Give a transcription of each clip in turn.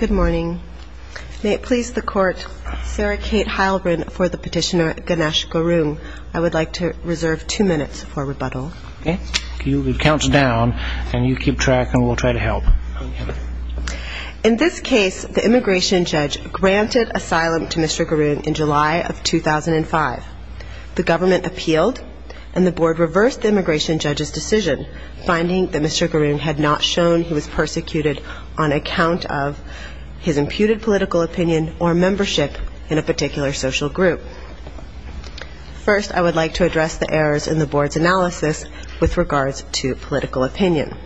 In this case, the immigration judge granted asylum to Mr. Garung in July 2005. The government appealed, and the board reversed the immigration judge's decision, finding that Mr. Garung had not shown he was persecuted on account of his imputed political opinion or membership in a particular social group. First, I would like to address the errors in the board's analysis with regards to political opinion.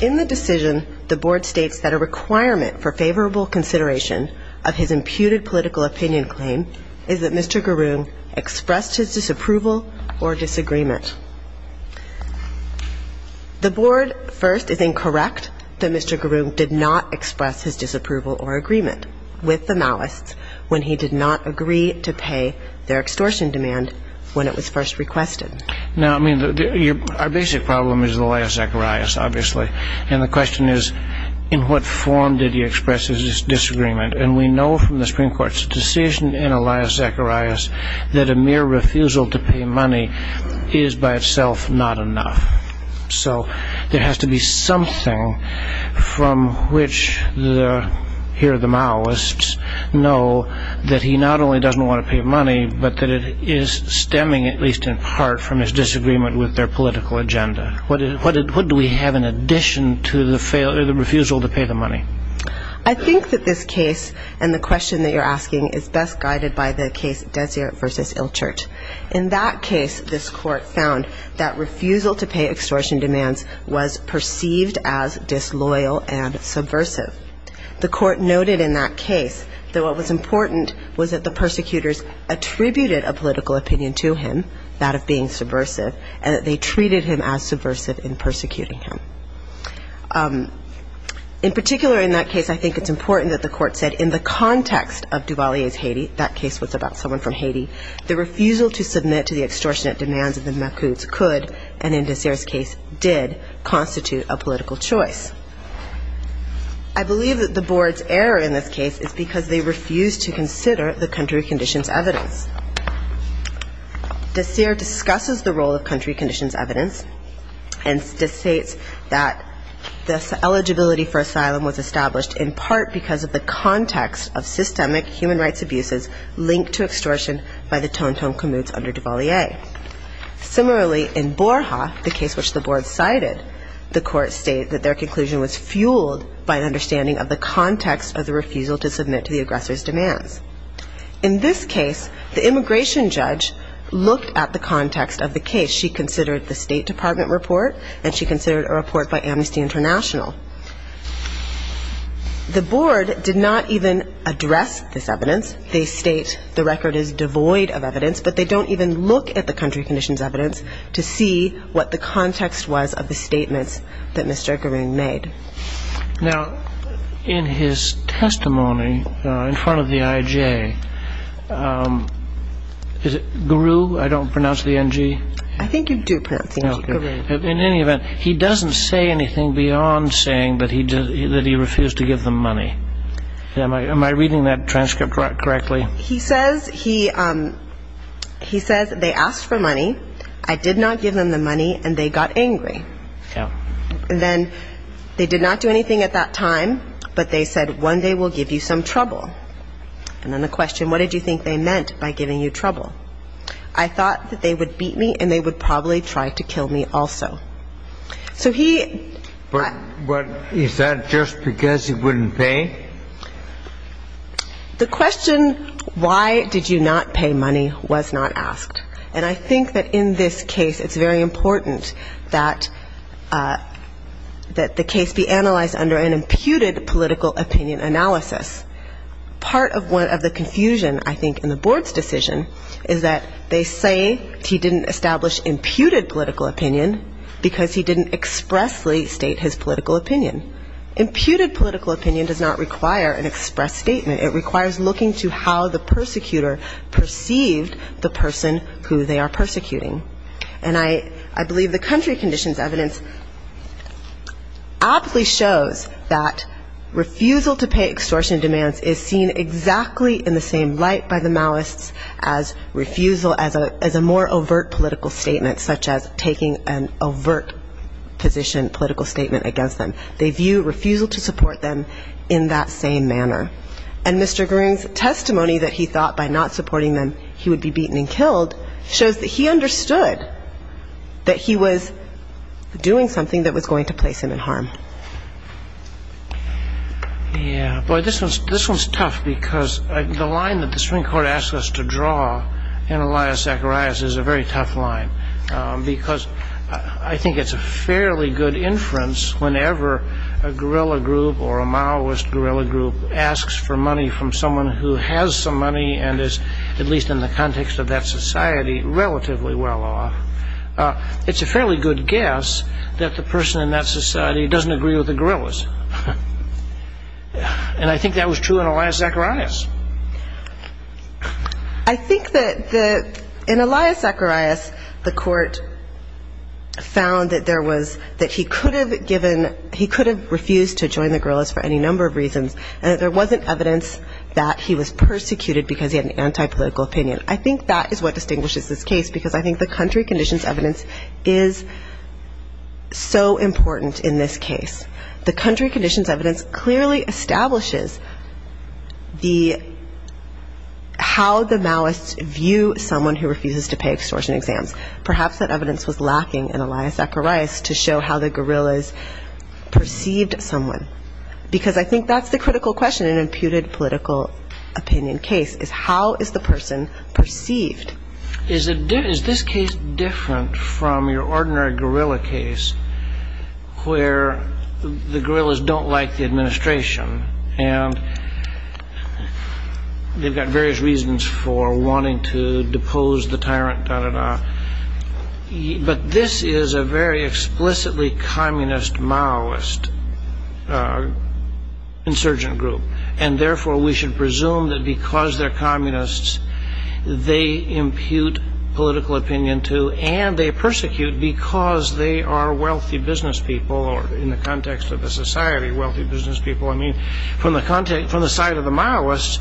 In the decision, the board states that a requirement for favorable consideration of his imputed political opinion claim is that Mr. Garung expressed his disapproval or disagreement. The board, first, is incorrect that Mr. Garung did not express his disapproval or agreement with the Maoists when he did not agree to pay their extortion demand when it was first requested. Now, I mean, our basic problem is Elias Zacharias, obviously. And the question is, in what form did he express his disagreement? And we know from the Supreme Court's decision in Elias Zacharias that a mere refusal to pay money is by itself not enough. So there has to be something from which the, here the Maoists, know that he not only doesn't want to pay money, but that it is stemming, at least in part, from his disagreement with their political agenda. What do we have in addition to the refusal to pay the money? I think that this case and the question that you're asking is best guided by the case Dessier v. Ilchert. In that case, this Court found that refusal to pay extortion demands was perceived as disloyal and subversive. The Court noted in that case that what was important was that the persecutors attributed a political opinion to him, that of being subversive, and that they treated him as subversive in persecuting him. In particular in that case, I think it's important that the Court said in the context of Duvalier's Haiti, that case was about someone from Haiti, the refusal to submit to the extortionate demands of the Makhouds could, and in Dessier's case did, constitute a political choice. I believe that the Board's error in this case is because they refused to consider the country conditions evidence. Dessier discusses the role of country that this eligibility for asylum was established in part because of the context of systemic human rights abuses linked to extortion by the Tonton Kamouts under Duvalier. Similarly, in Borja, the case which the Board cited, the Court stated that their conclusion was fueled by an understanding of the context of the refusal to submit to the aggressor's demands. In this case, the immigration judge looked at the context of the case. She considered a report by Amnesty International. The Board did not even address this evidence. They state the record is devoid of evidence, but they don't even look at the country conditions evidence to see what the context was of the statements that Mr. Gurin made. Now, in his testimony in front of the IJ, is it Guru? I don't pronounce the N-G? In any event, he doesn't say anything beyond saying that he refused to give them money. Am I reading that transcript correctly? He says they asked for money. I did not give them the money, and they got angry. Then they did not do anything at that time, but they said one day we'll give you some trouble. And then the question, what did you think they meant by giving you trouble? I thought that they would beat me, and they would probably try to kill me also. So he But is that just because he wouldn't pay? The question, why did you not pay money, was not asked. And I think that in this case it's very important that the case be analyzed under an imputed political opinion analysis. Part of the confusion, I think, in the board's decision is that they say he didn't establish imputed political opinion because he didn't expressly state his political opinion. Imputed political opinion does not require an express statement. It requires looking to how the persecutor perceived the person who they are persecuting. And I believe the country conditions evidence aptly shows that refusal to pay extortion demands is seen exactly in the same light by the Maoists as refusal as a more overt political statement, such as taking an overt position, political statement against them. They view refusal to support them in that same manner. And Mr. Green's testimony that he thought by not supporting them he would be beaten and killed shows that he understood that he was doing something that was going to place him in harm. Yeah. Boy, this one's tough because the line that the Supreme Court asked us to draw in Elias Zacharias is a very tough line because I think it's a fairly good inference whenever a guerrilla group or a Maoist guerrilla group asks for money from someone who has some money and is, at least in the context of that society, relatively well off. It's a fairly good guess that the person in that society doesn't agree with the guerrillas. And I think that was true in Elias Zacharias. I think that in Elias Zacharias the court found that there was, that he could have given, he could have refused to join the guerrillas for any number of reasons and that there wasn't evidence that he was persecuted because he had an anti-political opinion. I think that is what distinguishes this case because I think the country conditions evidence is so important in this case. The country conditions evidence clearly establishes the how the Maoists view someone who refuses to pay extortion exams. Perhaps that evidence was lacking in Elias Zacharias to show how the guerrillas perceived someone because I think that's the critical question in an imputed political opinion case is how is the person perceived. Is this case different from your ordinary guerrilla case where the guerrillas don't like the administration and they've got various reasons for wanting to depose the tyrant, da da da, but this is a very explicitly communist Maoist insurgent group and therefore we should say communists they impute political opinion to and they persecute because they are wealthy business people or in the context of the society wealthy business people. I mean from the context, from the side of the Maoists,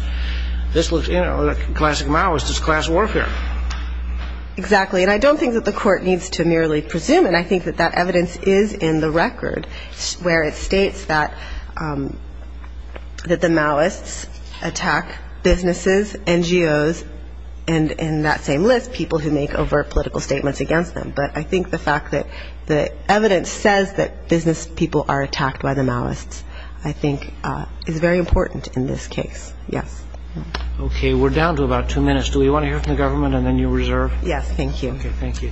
this looks, you know, the classic Maoist is class warfare. Exactly and I don't think that the court needs to merely presume and I think that that evidence is in the record where it states that the Maoists attack businesses and they attack business, NGOs and in that same list people who make overt political statements against them, but I think the fact that the evidence says that business people are attacked by the Maoists I think is very important in this case, yes. Okay we're down to about two minutes. Do we want to hear from the government and then you reserve? Yes, thank you. Okay, thank you.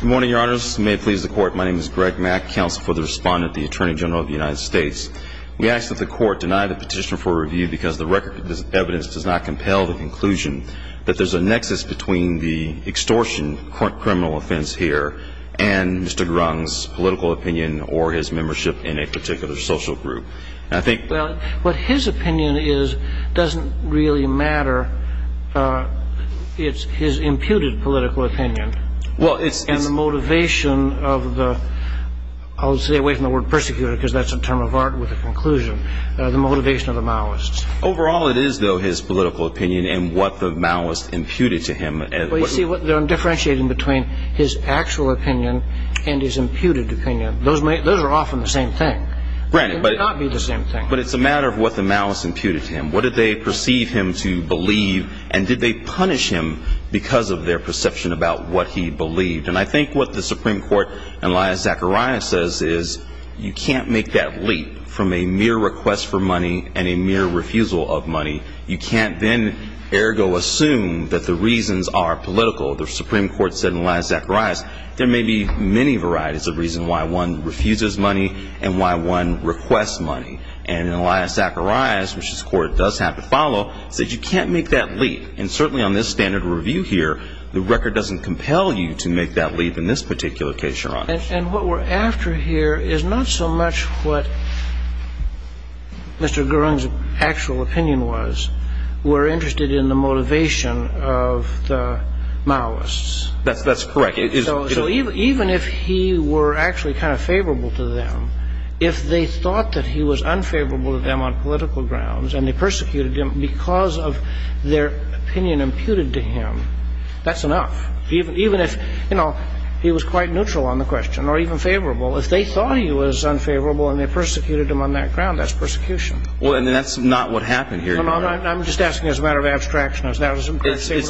Good morning, your honors. May it please the court, my name is Greg Mack, counsel for the respondent, the Attorney General of the United States. We ask that the court deny the petition for review because the record of this evidence does not compel the conclusion that there's a nexus between the extortion criminal offense here and Mr. Grung's political opinion or his membership in a particular social group. Well, what his opinion is doesn't really matter, it's his imputed political opinion and the motivation of the, I'll stay away from the word persecutor because that's a term of art with a conclusion, the motivation of the Maoists. Overall it is, though, his political opinion and what the Maoists imputed to him. Well, you see, I'm differentiating between his actual opinion and his imputed opinion. Those are often the same thing. But it's a matter of what the Maoists imputed to him. What did they perceive him to believe and did they punish him because of their perception about what he believed? And I think what the Supreme Court and Elias Zacharias says is you can't make that leap from a mere request for money and a mere refusal of money. You can't then, ergo, assume that the reasons are political. The Supreme Court said, and Elias Zacharias, there may be many varieties of reasons why one refuses money and why one requests money. And Elias Zacharias, which his court does have to follow, said you can't make that leap. And certainly on this standard review here, the record doesn't compel you to make that leap in this particular case, Your Honor. And what we're after here is not so much what Mr. Gerung's actual opinion was. We're interested in the motivation of the Maoists. That's correct. So even if he were actually kind of favorable to them, if they thought that he was unfavorable to them on political grounds and they persecuted him because of their opinion imputed to him, that's enough. Even if, you know, he was quite neutral on the question or even favorable, if they thought he was unfavorable and they persecuted him on that ground, that's persecution. Well, and that's not what happened here, Your Honor. I'm just asking as a matter of abstraction. It's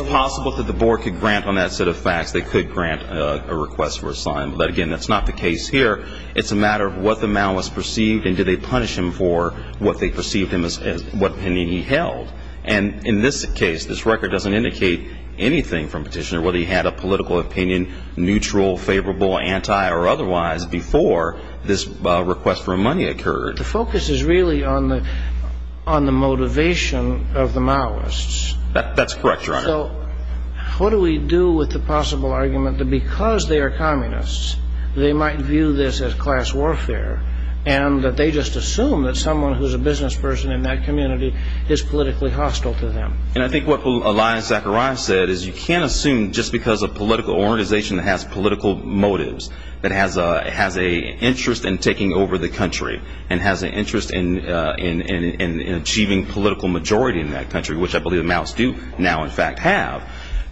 possible that the board could grant on that set of facts, they could grant a request for asylum. But again, that's not the case here. It's a matter of what the Maoists perceived and did they punish him for what they perceived him as, what opinion he held. And in this case, this record doesn't indicate anything from Petitioner, whether he had a political opinion, neutral, favorable, anti or otherwise, before this request for money occurred. The focus is really on the motivation of the Maoists. That's correct, Your Honor. So what do we do with the possible argument that because they are communists, they might view this as class warfare and that they just assume that someone who's a business person in that community is politically hostile to them? And I think what Elias Zacharias said is you can't assume just because a political organization has political motives, that has an interest in taking over the country and has an interest in achieving political majority in that country, which I believe the Maoists do now in fact have.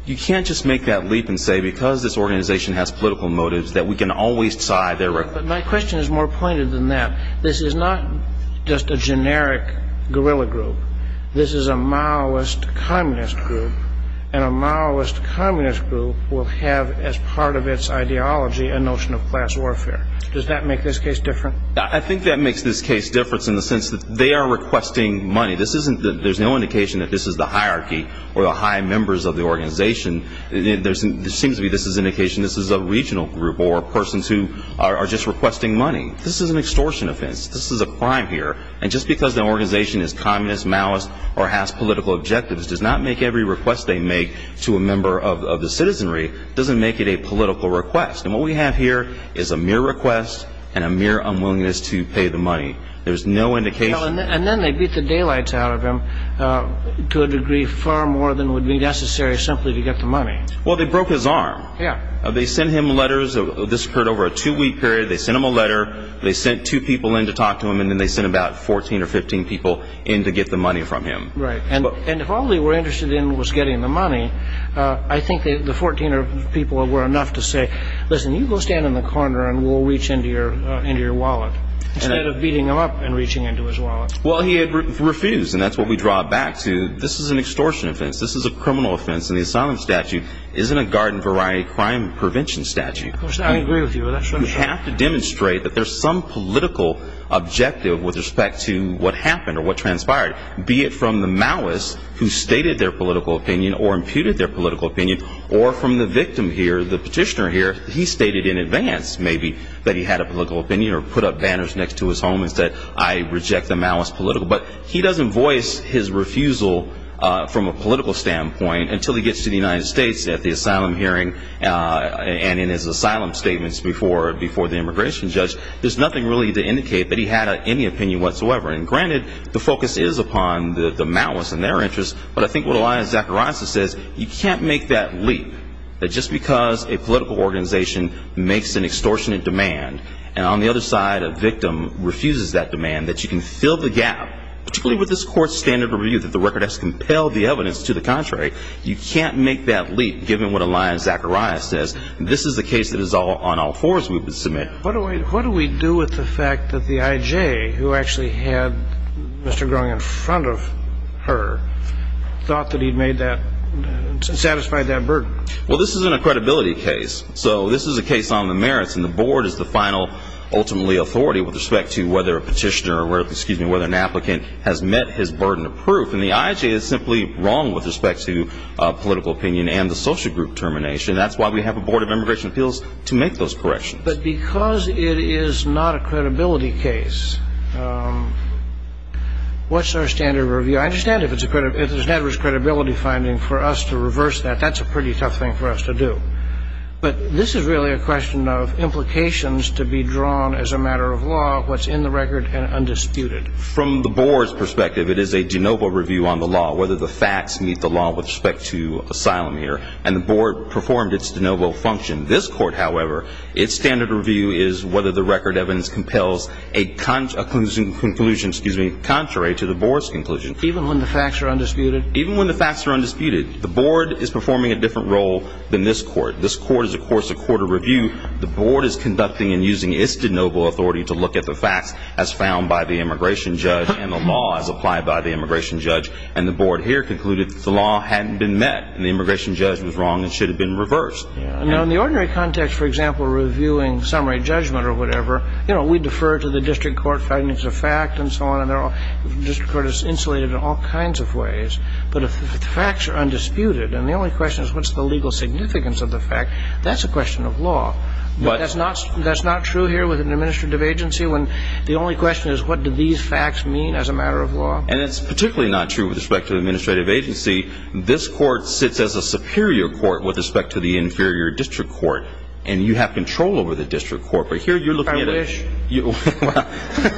You can't just make that leap and say because this organization has political motives that we can always tie their record. But my question is more pointed than that. This is not just a generic guerrilla group. This is a Maoist communist group. And a Maoist communist group will have as part of its ideology a notion of class warfare. Does that make this case different? I think that makes this case different in the sense that they are requesting money. This isn't, there's no indication that this is the hierarchy or the high members of the organization. There seems to be this indication this is a regional group or persons who are just requesting money. This is an extortion offense. This is a crime here. And just because the organization is communist, Maoist, or has political objectives, does not make every request they make to a member of the citizenry, doesn't make it a political request. And what we have here is a mere request and a mere unwillingness to pay the money. There's no indication. And then they beat the daylights out of him to a degree far more than would be necessary simply to get the money. Well, they broke his arm. They sent him letters. This occurred over a two-week period. They sent him a letter. They sent two people in to talk to him. And then they sent about 14 or 15 people in to get the money from him. Right. And if all they were interested in was getting the money, I think the 14 people were enough to say, listen, you go stand in the corner and we'll reach into your wallet. Instead of beating him up and reaching into his wallet. Well, he had refused. And that's what we draw back to. This is an extortion offense. This is a criminal offense. And the asylum statute isn't a garden variety crime prevention statute. Of course, I agree with you. That's what I'm saying. You have to demonstrate that there's some political objective with respect to what happened or what transpired, be it from the Maoist who stated their political opinion or imputed their political opinion or from the victim here, the petitioner here. He stated in advance maybe that he had a political opinion or put up banners next to his home and said, I reject the Maoist political. But he doesn't voice his refusal from a political standpoint until he gets to the United States at the asylum hearing and in his asylum statements before the immigration judge. There's nothing really to indicate that he had any opinion whatsoever. And granted, the focus is upon the Maoists and their interests. But I think what Elia Zacharias says, you can't make that leap that just because a political organization makes an extortionate demand and on the other side a victim refuses that demand, that you can fill the gap, particularly with this court's standard of review that the record has compelled the evidence to the contrary. You can't make that leap, given what Elia Zacharias says. This is the case that is on all fours we would submit. What do we do with the fact that the IJ, who actually had Mr. Groen in front of her, thought that he'd satisfied that burden? Well, this isn't a credibility case. So this is a case on the merits. And the board is the final, ultimately, authority with respect to whether a petitioner or whether an applicant has met his burden of proof. And the IJ is simply wrong with respect to political opinion and the social group termination. That's why we have a board of immigration appeals to make those corrections. But because it is not a credibility case, what's our standard of review? I understand if there's never a credibility finding for us to reverse that. That's a pretty tough thing for us to do. But this is really a question of implications to be drawn as a matter of law, what's in the record and undisputed. From the board's perspective, it is a de novo review on the law, whether the facts meet the law with respect to asylum here. And the board performed its de novo function. This court, however, its standard of review is whether the record of evidence compels a conclusion contrary to the board's conclusion. Even when the facts are undisputed? Even when the facts are undisputed. The board is performing a different role than this court. This court is, of course, a court of review. The board is conducting and using its de novo authority to look at the facts as found by the immigration judge and the law as applied by the immigration judge. And the board here concluded that the law hadn't been met and the immigration judge was wrong and should have been reversed. Now, in the ordinary context, for example, reviewing summary judgment or whatever, you know, we defer to the district court findings of fact and so on. And the district court is insulated in all kinds of ways. But if the facts are undisputed, and the only question is what's the legal significance of the fact, that's a question of law. That's not true here with an administrative agency when the only question is what do these facts mean as a matter of law? And it's particularly not true with respect to the administrative agency. This court sits as a superior court with respect to the inferior district court. And you have control over the district court. But here you're looking at a I wish.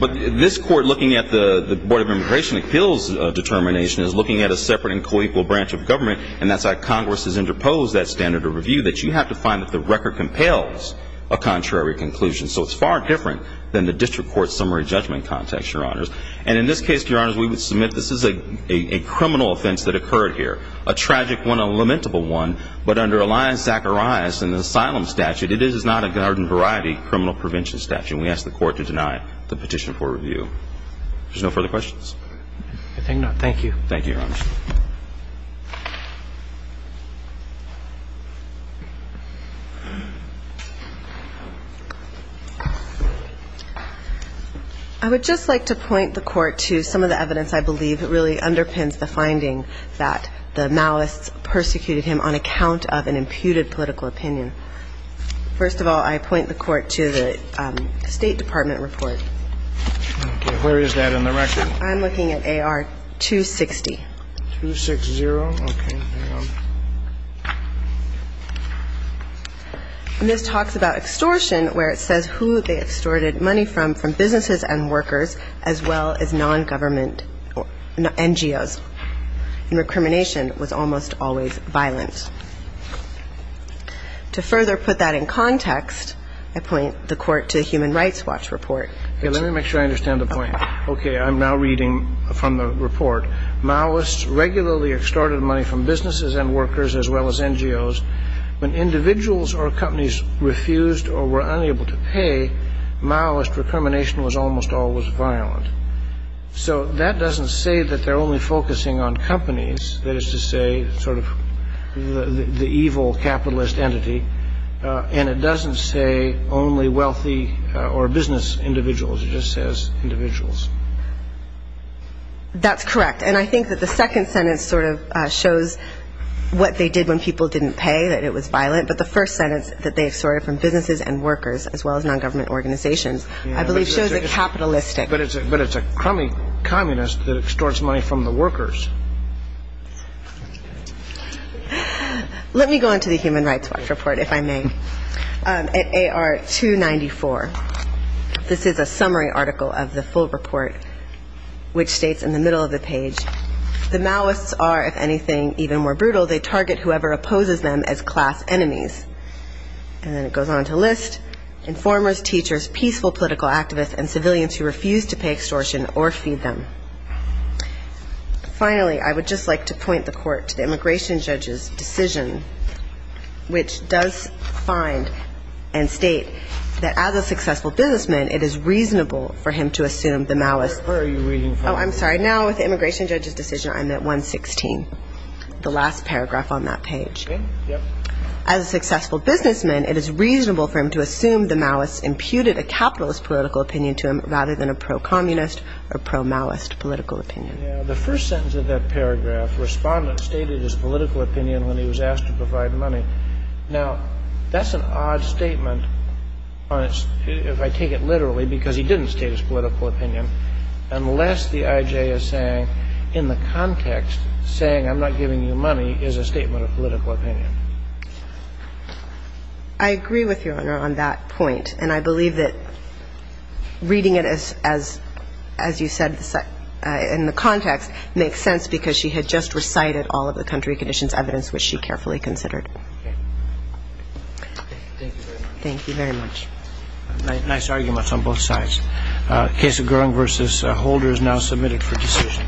But this court looking at the Board of Immigration appeals determination is looking at a separate and coequal branch of government. And that's how Congress has interposed that standard of review that you have to find that the record compels a contrary conclusion. So it's far different than the district court summary judgment context, Your Honors. And in this case, Your Honors, we would submit this is a criminal offense that occurred here, a tragic one, a lamentable one. But under Elias Zacharias and the asylum statute, it is not a garden variety criminal prevention statute. And we ask the court to deny the petition for review. There's no further questions? I think not. Thank you. Thank you, Your Honors. I would just like to point the court to some of the evidence I believe really underpins the finding that the malice persecuted him on account of an imputed political opinion. First of all, I point the court to the State Department report. Okay. Where is that in the record? I'm looking at AR 260. 260. Okay. Hang on. And this talks about extortion, where it says who they extorted money from, from businesses and workers, as well as non-government NGOs. And recrimination was almost always violent. To further put that in context, I point the court to the Human Rights Watch report. Okay. Let me make sure I understand the point. Okay. I'm now reading from the report. Malice regularly extorted money from businesses and workers, as well as NGOs. When individuals or companies refused or were unable to pay, malice recrimination was almost always violent. So that doesn't say that they're only focusing on companies. That is to say, sort of the evil capitalist entity. And it doesn't say only wealthy or business individuals. It just says individuals. That's correct. And I think that the second sentence sort of shows what they did when people didn't pay, that it was violent. But the first sentence, that they extorted from businesses and workers, as well as non-government organizations, I believe shows a capitalistic. But it's a crummy communist that extorts money from the workers. Let me go into the Human Rights Watch report, if I may. At AR-294, this is a summary article of the full report, which states in the middle of the page, the Maoists are, if anything, even more brutal. They target whoever opposes them as class enemies. And then it goes on to list informers, teachers, peaceful political activists, and civilians who refuse to pay extortion or feed them. Finally, I would just like to point the court to the immigration judge's decision, which does find and state that, as a successful businessman, it is reasonable for him to assume the Maoists. Where are you reading from? Oh, I'm sorry. Now, with the immigration judge's decision, I'm at 116, the last paragraph on that page. As a successful businessman, it is reasonable for him to assume the Maoists imputed a capitalist political opinion to him, rather than a pro-communist or pro-Maoist political opinion. The first sentence of that paragraph, respondent stated his political opinion when he was asked to provide money. Now, that's an odd statement on its, if I take it literally, because he didn't state his political opinion, unless the I.J. is saying, in the context, saying I'm not giving you money is a statement of political opinion. I agree with Your Honor on that point. And I believe that reading it as, as you said, in the context, makes sense because she had just recited all of the country conditions evidence, which she carefully considered. Thank you very much. Nice arguments on both sides. Case of Gurung versus Holder is now submitted for decision.